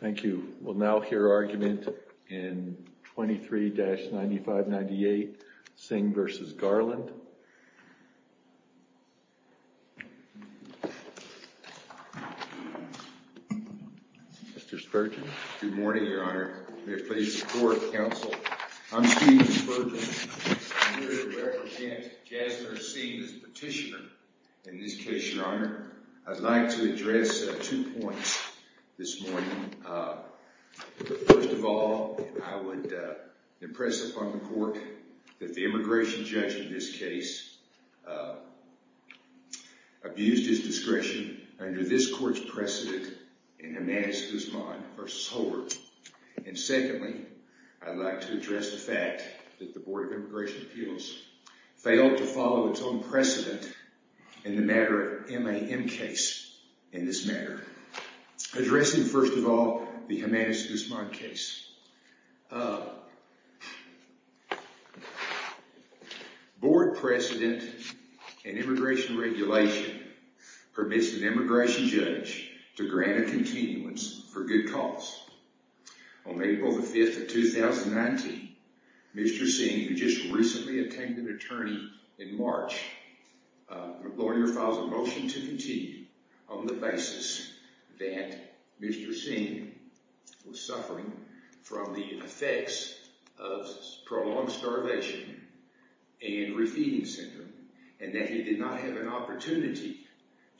Thank you. We'll now hear argument in 23-9598 Singh v. Garland. Mr. Spurgeon. Good morning, Your Honor. May it please the Court, Counsel. I'm Stephen Spurgeon. I'm here to represent Jasner Singh as petitioner. In this case, Your Honor, I'd like to address two points this morning. First of all, I would impress upon the Court that the immigration judge in this case abused his discretion under this Court's precedent in Jimenez-Guzman v. Holder. And secondly, I'd like to address the fact that the Board of Immigration Appeals failed to follow its own precedent in the matter of MAM case in this matter. Addressing, first of all, the Jimenez-Guzman case. Board precedent in immigration regulation permits an immigration judge to grant a continuance for good cause. On April 5, 2019, Mr. Singh, who just recently attained an attorney in March, lawyer, files a motion to continue on the basis that Mr. Singh was suffering from the effects of prolonged starvation and refeeding syndrome and that he did not have an opportunity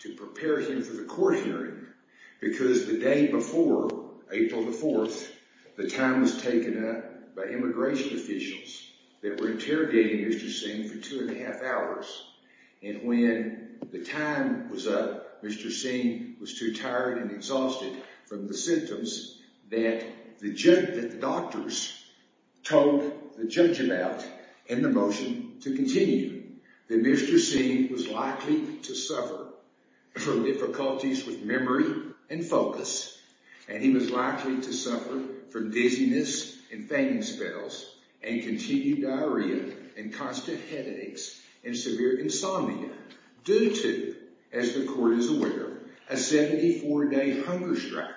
to prepare him for the court hearing because the day before, April the 4th, the time was taken up by immigration officials that were interrogating Mr. Singh for two and a half hours. And when the time was up, Mr. Singh was too tired and exhausted from the symptoms that the doctors told the judge about in the motion to continue. Mr. Singh was likely to suffer from difficulties with memory and focus, and he was likely to suffer from dizziness and fainting spells and continued diarrhea and constant headaches and severe insomnia due to, as the court is aware, a 74-day hunger strike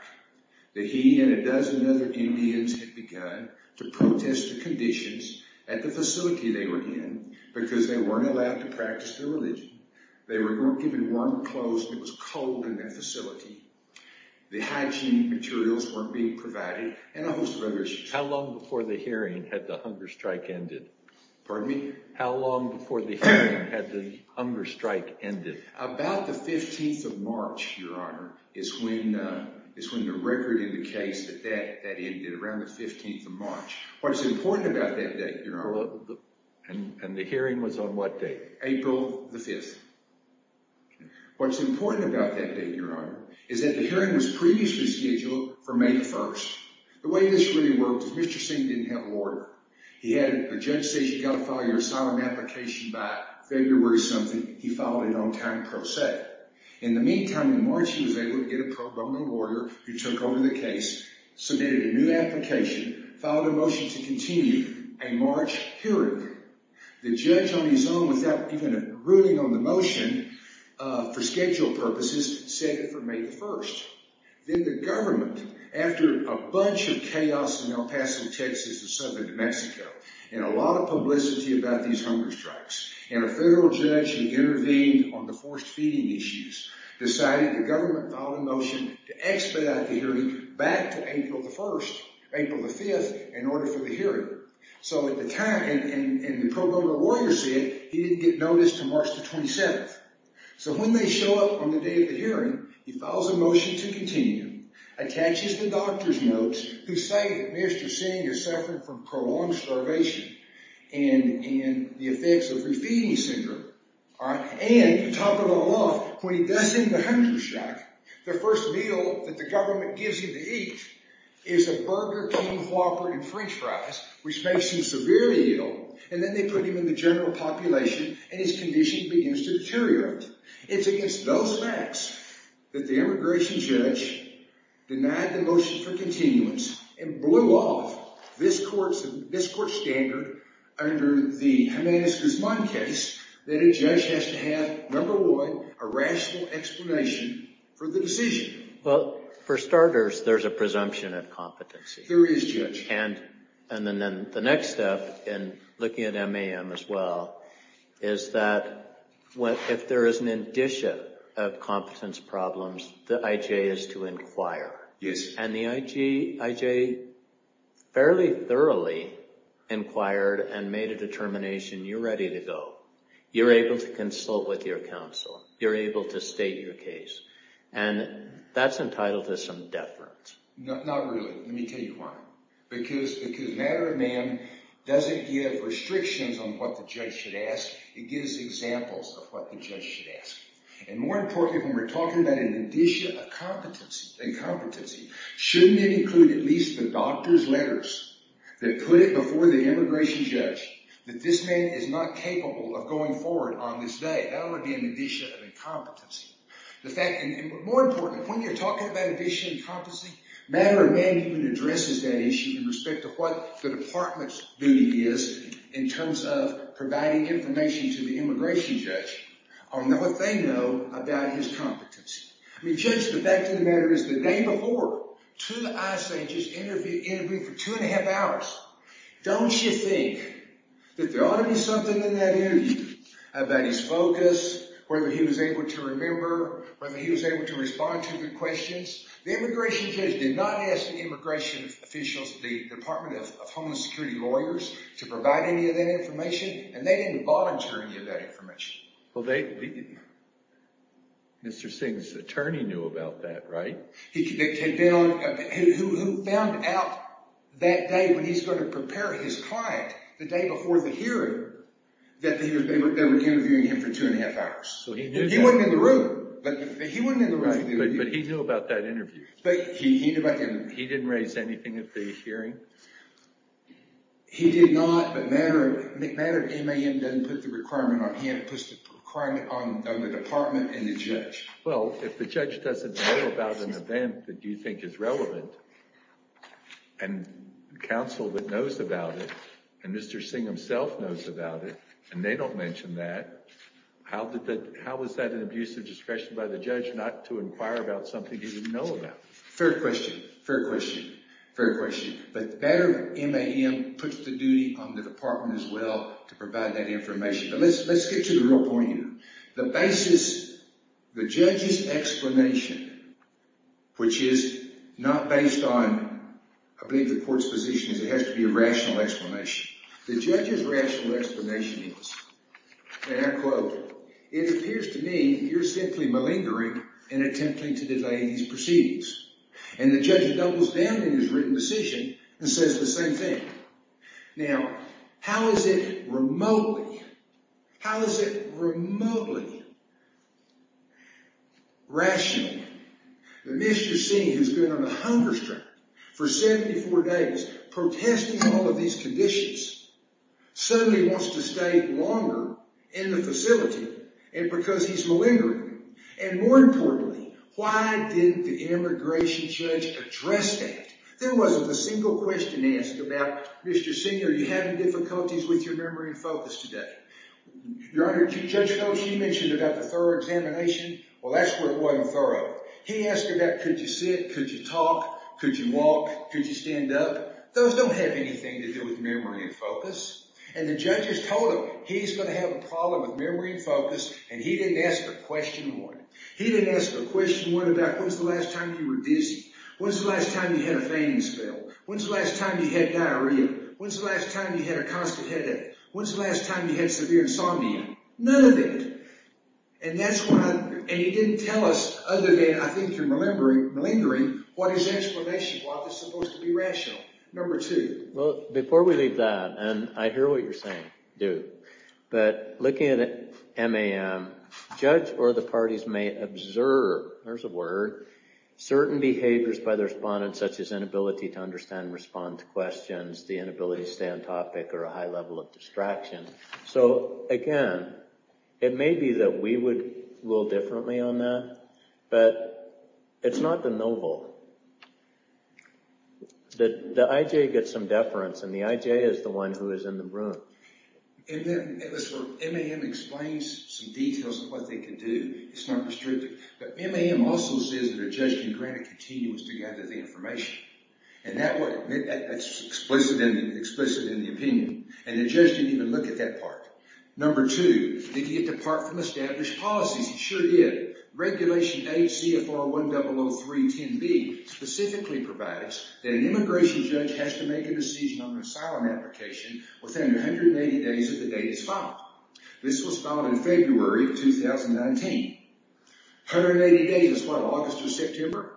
that he and a dozen other Indians had begun to protest the conditions at the facility they were in because they weren't allowed to practice their religion. They were given warm clothes and it was cold in that facility. The hygiene materials weren't being provided and a host of other issues. How long before the hearing had the hunger strike ended? Pardon me? How long before the hearing had the hunger strike ended? About the 15th of March, Your Honor, is when the record indicates that that ended, around the 15th of March. What's important about that date, Your Honor? And the hearing was on what date? April the 5th. What's important about that date, Your Honor, is that the hearing was previously scheduled for May the 1st. The way this really worked is Mr. Singh didn't have a lawyer. He had a judge say, you've got to file your asylum application by February something. He filed it on time pro se. In the meantime, in March, he was able to get a pro bono lawyer who took over the case, submitted a new application, filed a motion to continue a March hearing. The judge on his own, without even ruling on the motion for schedule purposes, said it for May the 1st. Then the government, after a bunch of chaos in El Paso, Texas and southern New Mexico and a lot of publicity about these hunger strikes and a federal judge who intervened on the forced feeding issues, decided the government filed a motion to expedite the hearing back to April the 1st, April the 5th, in order for the hearing. So at the time, and the pro bono lawyer said he didn't get notice until March the 27th. So when they show up on the day of the hearing, he files a motion to continue, attaches the doctor's notes who say Mr. Singh is suffering from prolonged starvation and the effects of refeeding syndrome. And on top of it all off, when he does end the hunger strike, the first meal that the government gives him to eat is a burger, king whopper, and french fries, which makes him severely ill. And then they put him in the general population and his condition begins to deteriorate. It's against those facts that the immigration judge denied the motion for continuance and blew off this court's standard under the Jimenez-Guzman case that a judge has to have, number one, a rational explanation for the decision. Well, for starters, there's a presumption of competency. There is, Judge. And then the next step in looking at MAM as well is that if there is an addition of competence problems, the IJ is to inquire. Yes. And the IJ fairly thoroughly inquired and made a determination, you're ready to go. You're able to consult with your counsel. You're able to state your case. And that's entitled to some deference. Not really. Let me tell you why. Because MAM doesn't give restrictions on what the judge should ask. It gives examples of what the judge should ask. And more importantly, when we're talking about an addition of competency, shouldn't it include at least the doctor's letters that put it before the immigration judge that this man is not capable of going forward on this day? That would be an addition of incompetency. More importantly, when you're talking about addition of competency, matter of management addresses that issue in respect of what the department's duty is in terms of providing information to the immigration judge on what they know about his competency. I mean, Judge, the fact of the matter is the day before, two ISJs interviewed for two and a half hours. Don't you think that there ought to be something in that interview about his focus, whether he was able to remember, whether he was able to respond to the questions? The immigration judge did not ask the immigration officials, the Department of Homeland Security lawyers, to provide any of that information, and they didn't volunteer any of that information. Well, Mr. Singh's attorney knew about that, right? He found out that day when he was going to prepare his client, the day before the hearing, that they were interviewing him for two and a half hours. He wasn't in the room. But he knew about that interview. He didn't raise anything at the hearing? He did not, but matter of MAM doesn't put the requirement on him. It puts the requirement on the department and the judge. Well, if the judge doesn't know about an event that you think is relevant, and counsel that knows about it, and Mr. Singh himself knows about it, and they don't mention that, how is that an abuse of discretion by the judge not to inquire about something he didn't know about? Fair question. Fair question. Fair question. But matter of MAM puts the duty on the department as well to provide that information. But let's get to the real point here. The basis, the judge's explanation, which is not based on, I believe, the court's position, is it has to be a rational explanation. The judge's rational explanation is, and I quote, it appears to me you're simply malingering in attempting to delay these proceedings. And the judge doubles down on his written decision and says the same thing. Now, how is it remotely, how is it remotely rational that Mr. Singh, who's been on a hunger strike for 74 days, protesting all of these conditions, suddenly wants to stay longer in the facility because he's malingering? And more importantly, why didn't the immigration judge address that? There wasn't a single question asked about, Mr. Singh, are you having difficulties with your memory and focus today? Your Honor, Judge Coe, she mentioned about the thorough examination. Well, that's where it wasn't thorough. He asked about could you sit, could you talk, could you walk, could you stand up? Those don't have anything to do with memory and focus. And the judges told him he's going to have a problem with memory and focus, and he didn't ask a question one. He didn't ask a question one about when's the last time you were dizzy, when's the last time you had a fainting spell, when's the last time you had diarrhea, when's the last time you had a constant headache, when's the last time you had severe insomnia. None of it. And he didn't tell us, other than I think you're malingering, what is explanation, why is this supposed to be rational, number two. Well, before we leave that, and I hear what you're saying, Duke, but looking at MAM, judge or the parties may observe, there's a word, certain behaviors by the respondents, such as inability to understand and respond to questions, the inability to stay on topic, or a high level of distraction. So, again, it may be that we would rule differently on that, but it's not the noble. The IJ gets some deference, and the IJ is the one who is in the room. And then MAM explains some details of what they can do. It's not restrictive. But MAM also says that a judge can grant a continuous to gather the information. And that's explicit in the opinion. And the judge didn't even look at that part. Number two, did he get the part from established policies? He sure did. Regulation 8 CFR 100310B specifically provides that an immigration judge has to make a decision on an asylum application within 180 days of the date it's filed. This was filed in February of 2019. 180 days is what, August or September?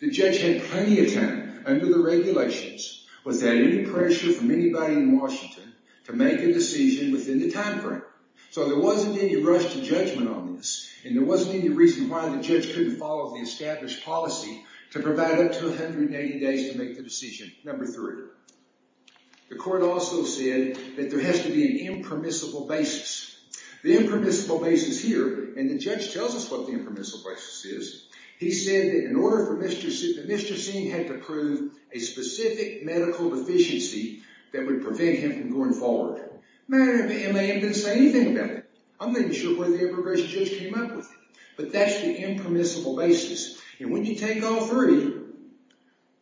The judge had plenty of time under the regulations, without any pressure from anybody in Washington, to make a decision within the timeframe. So there wasn't any rush to judgment on this, and there wasn't any reason why the judge couldn't follow the established policy to provide up to 180 days to make the decision. Number three, the court also said that there has to be an impermissible basis. The impermissible basis here, and the judge tells us what the impermissible basis is, he said that in order for Mr. Singh had to prove a specific medical deficiency that would prevent him from going forward. MAM didn't say anything about that. I'm not even sure where the immigration judge came up with it. But that's the impermissible basis. And when you take all three,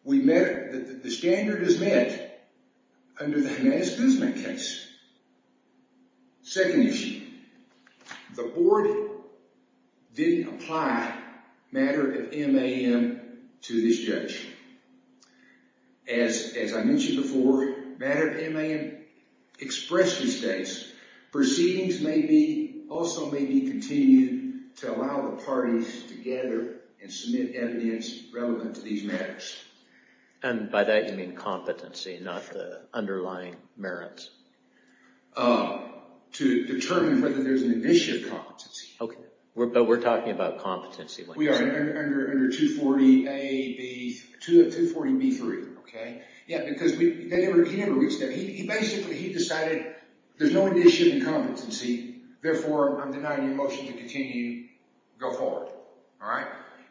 the standard is met under the Jimenez-Guzman case. Second issue, the board didn't apply matter of MAM to this judge. As I mentioned before, matter of MAM expressly states, proceedings may be, also may be continued to allow the parties to gather and submit evidence relevant to these matters. And by that you mean competency, not the underlying merits? To determine whether there's an issue of competency. Okay. But we're talking about competency. We are. Under 240 A, B, 240 B3. Yeah, because he never reached that. He basically, he decided there's no issue of competency, therefore I'm denying your motion to continue, go forward. All right.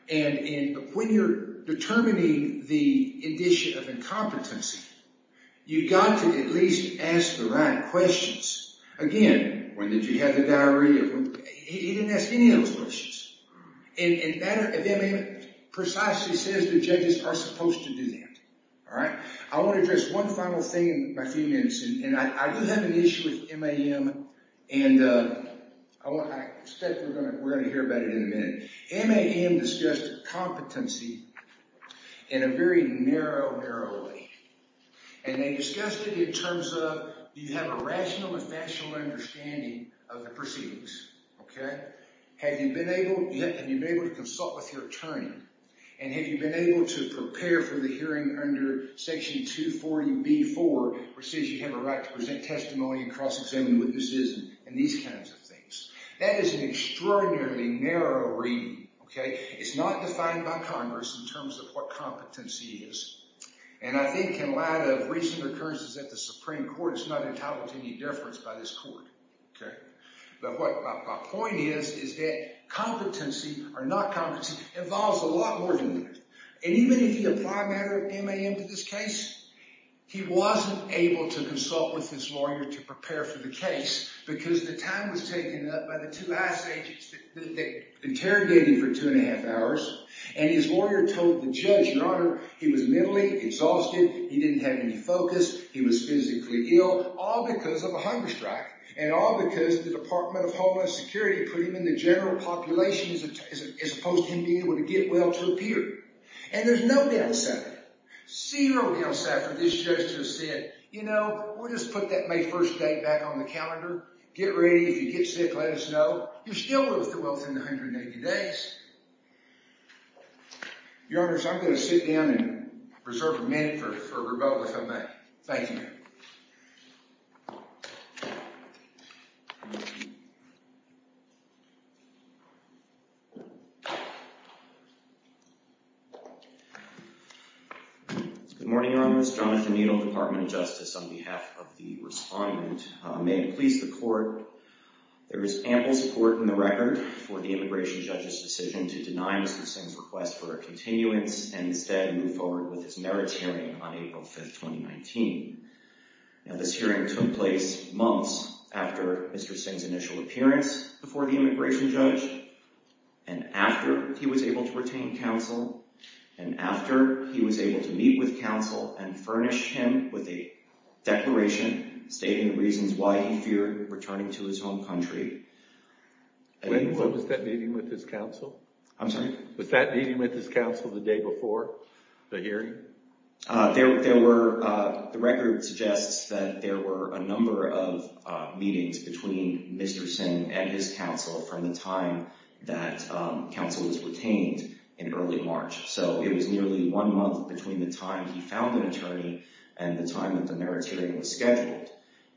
And when you're determining the issue of incompetency, you've got to at least ask the right questions. Again, when did you have the diarrhea? He didn't ask any of those questions. And matter of MAM precisely says the judges are supposed to do that. All right. I want to address one final thing in my few minutes. And I do have an issue with MAM. And I expect we're going to hear about it in a minute. MAM discussed competency in a very narrow, narrow way. And they discussed it in terms of, do you have a rational and fashionable understanding of the proceedings? Okay. Have you been able to consult with your attorney? And have you been able to prepare for the hearing under Section 240 B4, which says you have a right to present testimony and cross-examine witnesses and these kinds of things? That is an extraordinarily narrow reading. Okay. It's not defined by Congress in terms of what competency is. And I think in light of recent occurrences at the Supreme Court, it's not entitled to any deference by this court. Okay. But what my point is is that competency or not competency involves a lot more than that. And even if you apply matter of MAM to this case, he wasn't able to consult with his lawyer to prepare for the case because the time was taken up by the two ICE agents that interrogated him for two and a half hours. And his lawyer told the judge, Your Honor, he was mentally exhausted, he didn't have any focus, he was physically ill, all because of a hunger strike, and all because the Department of Homeland Security put him in the general population as opposed to him being able to get well to appear. And there's no downside. Zero downside for this judge to have said, you know, we'll just put that May 1st date back on the calendar, get ready if you get sick, let us know. You still live to well within 180 days. Your Honors, I'm going to sit down and reserve a minute for rebuttal if I may. Thank you. Good morning, Your Honors. Jonathan Needle, Department of Justice. On behalf of the respondent, may it please the court, there is ample support in the record for the immigration judge's decision to deny Mr. Singh's request for a continuance and instead move forward with his merits hearing on April 5th, 2019. Now this hearing took place months after Mr. Singh's initial appearance before the immigration judge, and after he was able to retain counsel, and after he was able to meet with counsel and furnish him with a declaration stating the reasons why he feared returning to his home country. When was that meeting with his counsel? I'm sorry? Was that meeting with his counsel the day before the hearing? There were, the record suggests that there were a number of meetings between Mr. Singh and his counsel from the time that counsel was retained in early March. So it was nearly one month between the time he found an attorney and the time that the merits hearing was scheduled.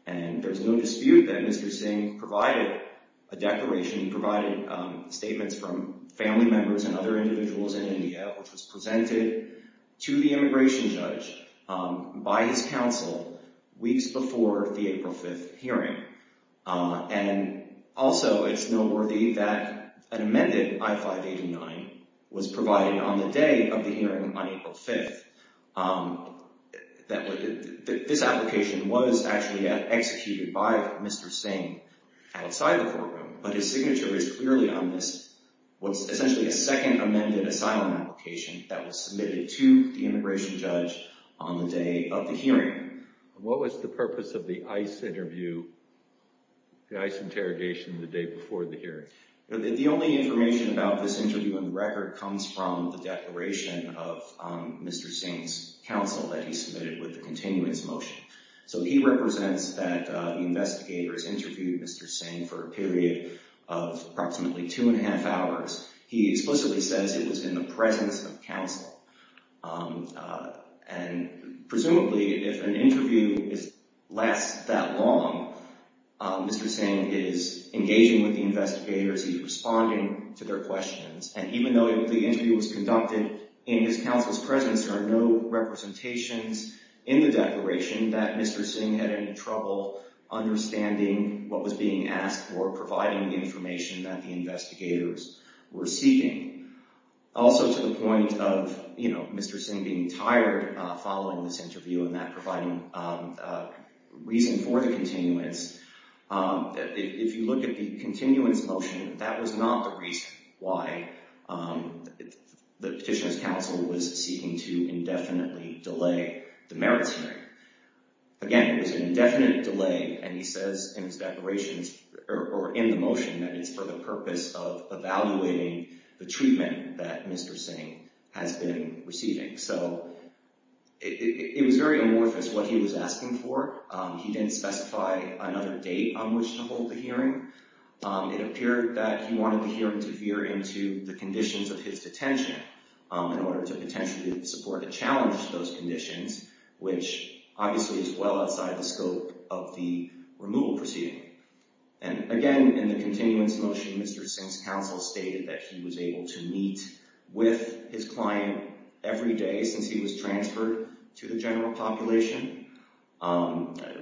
And there's no dispute that Mr. Singh provided a declaration. He provided statements from family members and other individuals in India, which was presented to the immigration judge by his counsel weeks before the April 5th hearing. And also it's noteworthy that an amended I-589 was provided on the day of the hearing on April 5th. This application was actually executed by Mr. Singh outside the courtroom, but his signature is clearly on this, what's essentially a second amended asylum application that was submitted to the immigration judge on the day of the hearing. What was the purpose of the ICE interview, the ICE interrogation the day before the hearing? The only information about this interview in the record comes from the declaration of Mr. Singh's counsel that he submitted with the continuance motion. So he represents that investigators interviewed Mr. Singh for a period of approximately two and a half hours. He explicitly says it was in the presence of counsel. And presumably if an interview is less that long, Mr. Singh is engaging with He's responding to their questions. And even though the interview was conducted in his counsel's presence, there are no representations in the declaration that Mr. Singh had any trouble understanding what was being asked or providing the information that the investigators were seeking. Also to the point of Mr. Singh being tired following this interview and that providing reason for the continuance, if you look at the continuance motion, that was not the reason why the petitioner's counsel was seeking to indefinitely delay the merits hearing. Again, it was an indefinite delay and he says in his declarations or in the treatment that Mr. Singh has been receiving. So it was very amorphous what he was asking for. He didn't specify another date on which to hold the hearing. It appeared that he wanted the hearing to veer into the conditions of his detention in order to potentially support a challenge to those conditions, which obviously is well outside the scope of the removal proceeding. And again, in the continuance motion, Mr. Singh's counsel stated that he was able to meet with his client every day since he was transferred to the general population,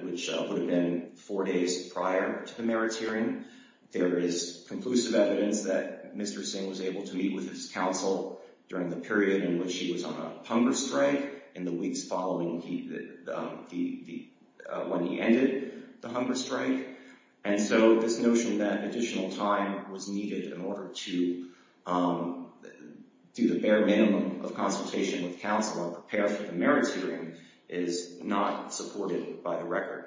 which would have been four days prior to the merits hearing. There is conclusive evidence that Mr. Singh was able to meet with his counsel during the period in which he was on a hunger strike in the weeks following when he ended the hunger strike. And so this notion that additional time was needed in order to do the bare minimum of consultation with counsel and prepare for the merits hearing is not supported by the record.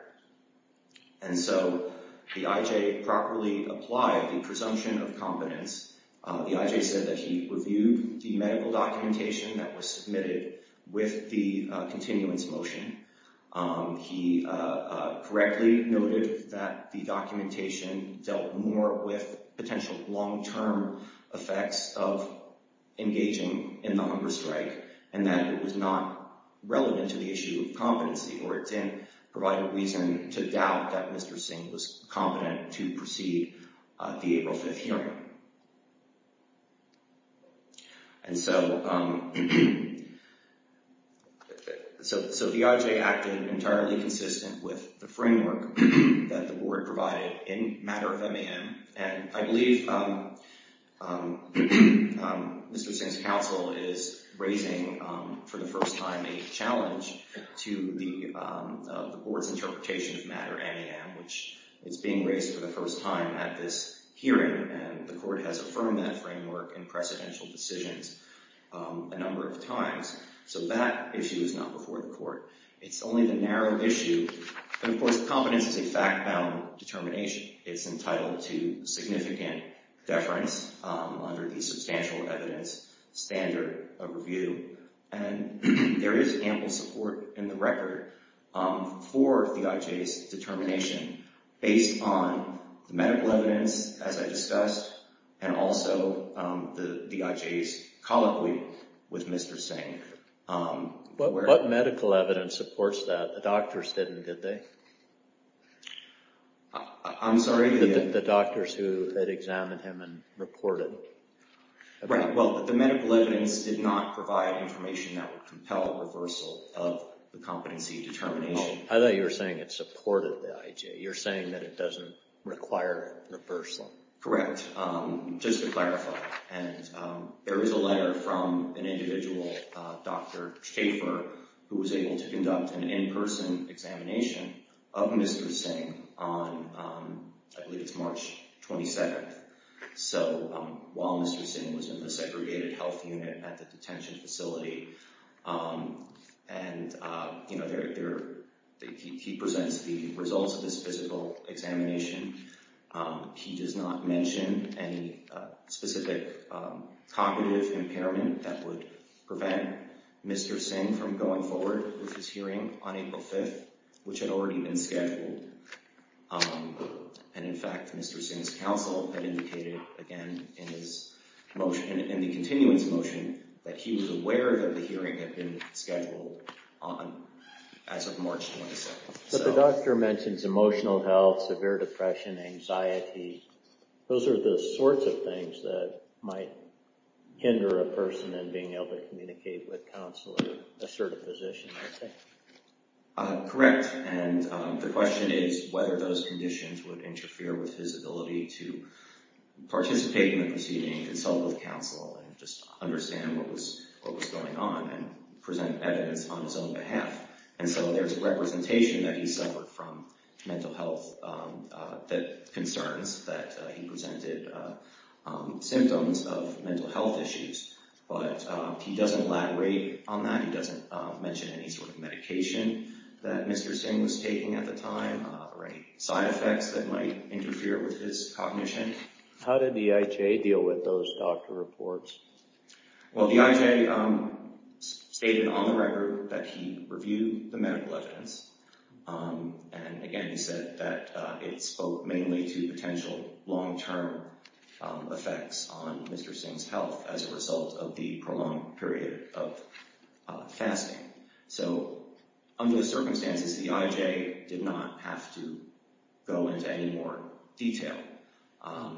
And so the IJ properly applied the presumption of competence. The IJ said that he reviewed the medical documentation that was submitted with the continuance motion. He correctly noted that the documentation dealt more with potential long-term effects of engaging in the hunger strike and that it was not relevant to the issue of competency or it didn't provide a reason to doubt that Mr. Singh was competent to proceed the April 5th hearing. And so the IJ acted entirely consistent with the framework that the board provided in matter of MAM. And I believe Mr. Singh's counsel is raising for the first time a challenge to the board's interpretation of matter MAM, which is being raised for the merits hearing and the court has affirmed that framework in precedential decisions a number of times. So that issue is not before the court. It's only the narrow issue. And of course, competence is a fact-bound determination. It's entitled to significant deference under the substantial evidence standard of review. And there is ample support in the record for the IJ's determination based on the medical evidence as I discussed and also the IJ's colloquy with Mr. Singh. What medical evidence supports that? The doctors didn't, did they? I'm sorry? The doctors who had examined him and reported. Right. Well, the medical evidence did not provide information that would compel reversal of the competency determination. I thought you were saying it supported the IJ. You're saying that it doesn't require reversal. Correct. Just to clarify. And there is a letter from an individual, Dr. Schaffer, who was able to conduct an in-person examination of Mr. Singh on, I believe it's March 22nd. So while Mr. Singh was in the segregated health unit at the detention facility and, you know, he was able to conduct a physical examination, he does not mention any specific cognitive impairment that would prevent Mr. Singh from going forward with his hearing on April 5th, which had already been scheduled. And in fact, Mr. Singh's counsel had indicated, again, in his motion, in the continuance motion, that he was aware that the hearing had been scheduled as of March 22nd. But the doctor mentions emotional health, severe depression, anxiety. Those are the sorts of things that might hinder a person in being able to communicate with counsel in a certain position, I think. Correct. And the question is whether those conditions would interfere with his ability to participate in the proceeding, consult with counsel, and just understand what was going on and present evidence on his own behalf. And so there's a representation that he suffered from mental health concerns, that he presented symptoms of mental health issues. But he doesn't elaborate on that. He doesn't mention any sort of medication that Mr. Singh was taking at the time or any side effects that might interfere with his cognition. How did the IJ deal with those doctor reports? Well, the IJ stated on the record that he reviewed the medical evidence. And again, he said that it spoke mainly to potential long-term effects on Mr. Singh's health as a result of the prolonged period of fasting. So under the circumstances, the IJ did not have to go into any more detail.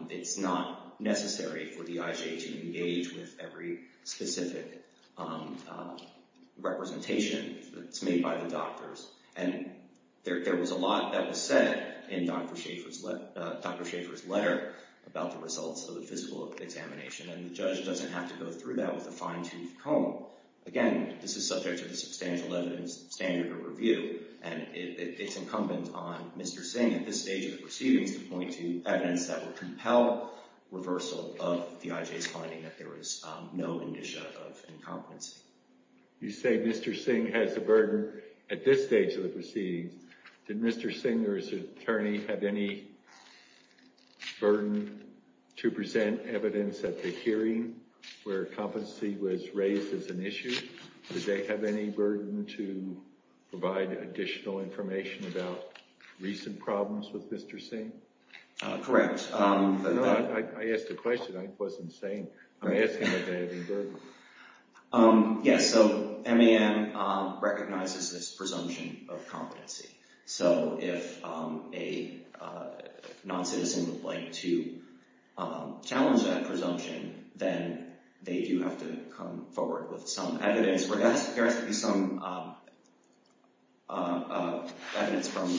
It's not necessary for the IJ to engage with every specific representation that's made by the doctors. And there was a lot that was said in Dr. Schaeffer's letter about the results of the physical examination. And the judge doesn't have to go through that with a fine-toothed Again, this is subject to the substantial standard of review. And it's incumbent on Mr. Singh at this stage of the proceedings to point to evidence that would compel reversal of the IJ's finding that there was no indicia of incompetency. You say Mr. Singh has a burden at this stage of the proceedings. Did Mr. Singh or his attorney have any burden to present evidence at the hearing where competency was raised as an issue? Did they have any burden to provide additional information about recent problems with Mr. Singh? Correct. I asked a question. I wasn't saying. I'm asking if they had any burden. Yes. So MAM recognizes this presumption of competency. So if a non-citizen would like to challenge that presumption, then they do have to come forward with some evidence. There has to be some evidence from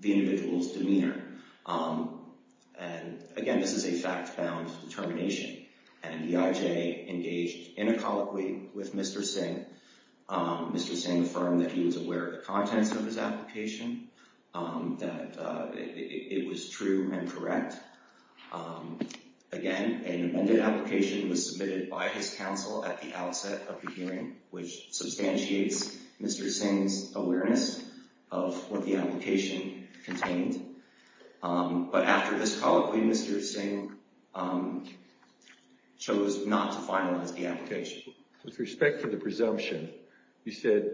the individual's demeanor. And again, this is a fact-bound determination. And the IJ engaged in a colloquy with Mr. Singh. Mr. Singh affirmed that he was aware of the contents of his application, that it was true and correct. Again, an amended application was submitted by his counsel at the outset of the hearing, which substantiates Mr. Singh's awareness of what the application contained. But after this colloquy, Mr. Singh chose not to finalize the application. With respect to the presumption, you said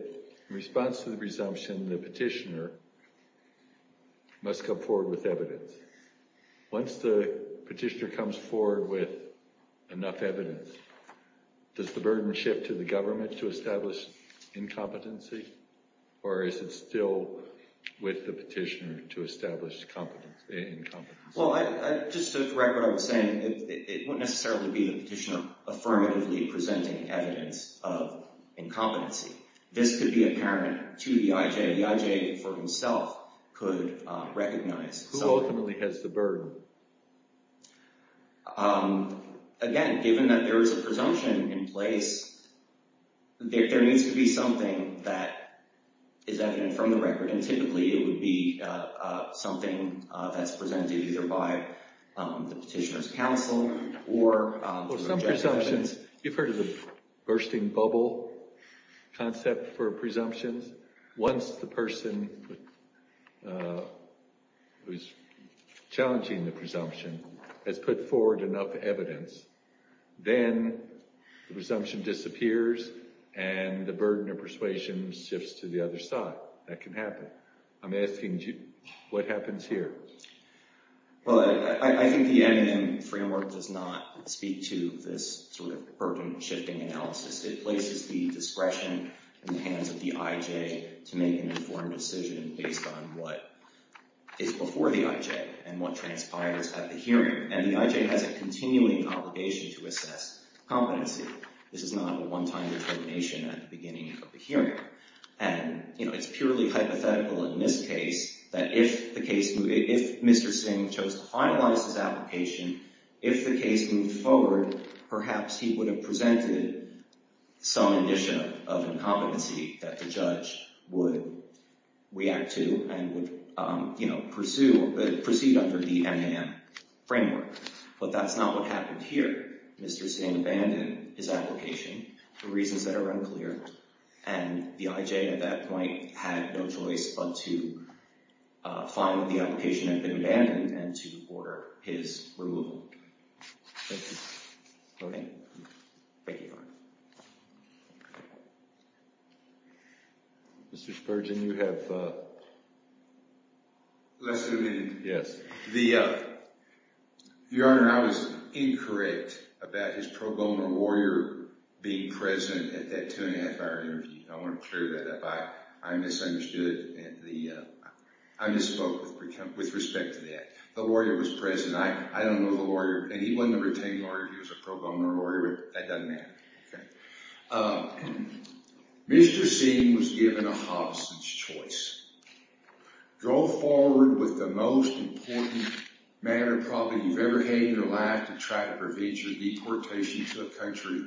in response to the presumption, the petitioner must come forward with evidence. Once the petitioner comes forward with enough evidence, does the burden shift to the government to establish incompetency, or is it still with the petitioner to establish incompetency? Well, just to correct what I was saying, it wouldn't necessarily be the petitioner affirmatively presenting evidence of incompetency. This could be apparent to the IJ. The IJ for himself could recognize. Who ultimately has the burden? Again, given that there is a presumption in place, there needs to be something that is evident from the record, and typically it would be something that's presented either by the petitioner's counsel or the IJ. Well, some presumptions refer to the bursting bubble concept for presumptions. Once the person who's challenging the presumption has put forward enough evidence, then the presumption disappears, and the burden of persuasion shifts to the other side. That can happen. I'm asking what happens here. Well, I think the MN framework does not speak to this sort of burden-shifting analysis. It places the discretion in the hands of the IJ to make an informed decision based on what is before the IJ and what transpires at the hearing, and the IJ has a continuing obligation to assess competency. This is not a one-time determination at the beginning of the hearing, and it's purely hypothetical in this case that if Mr. Singh chose to finalize his application, if the case moved forward, perhaps he would have presented some addition of incompetency that the judge would react to and would, you know, pursue, proceed under the MN framework. But that's not what happened here. Mr. Singh abandoned his application for reasons that are unclear, and the IJ at that point had no choice but to find that the application had been abandoned and to order his removal. Thank you. Okay. Thank you, Your Honor. Mr. Spurgeon, you have less than a minute. Your Honor, I was incorrect about his pro bono warrior being present at that two-and-a-half-hour interview. I want to clear that up. I misunderstood. I misspoke with respect to that. The warrior was present. I don't know the warrior, and he wasn't a retained warrior. He was a pro bono warrior, but that doesn't matter. Mr. Singh was given a Hobson's choice. Go forward with the most important matter, probably, you've ever had in your life to try to prevent your deportation to a country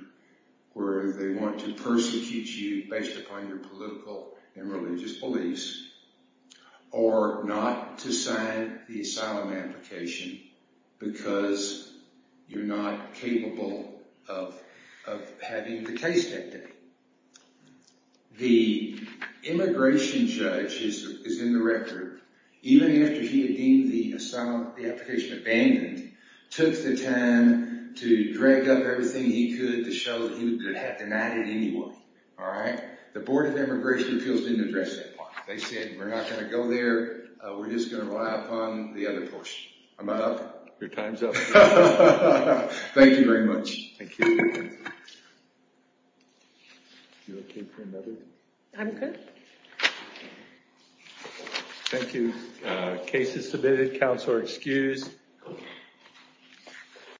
where they want to persecute you based upon your political and religious beliefs or not to sign the asylum application because you're not capable of having the case detected. The immigration judge is in the record. Even after he had deemed the application abandoned, took the time to drag up everything he could to show that he would have to deny it anyway. All right? The Board of Immigration Appeals didn't address that part. They said, we're not going to go there. We're just going to rely upon the other portion. Am I up? Your time's up. Thank you very much. Thank you. You okay for another? I'm good. Thank you. Case is submitted. Counsel are excused.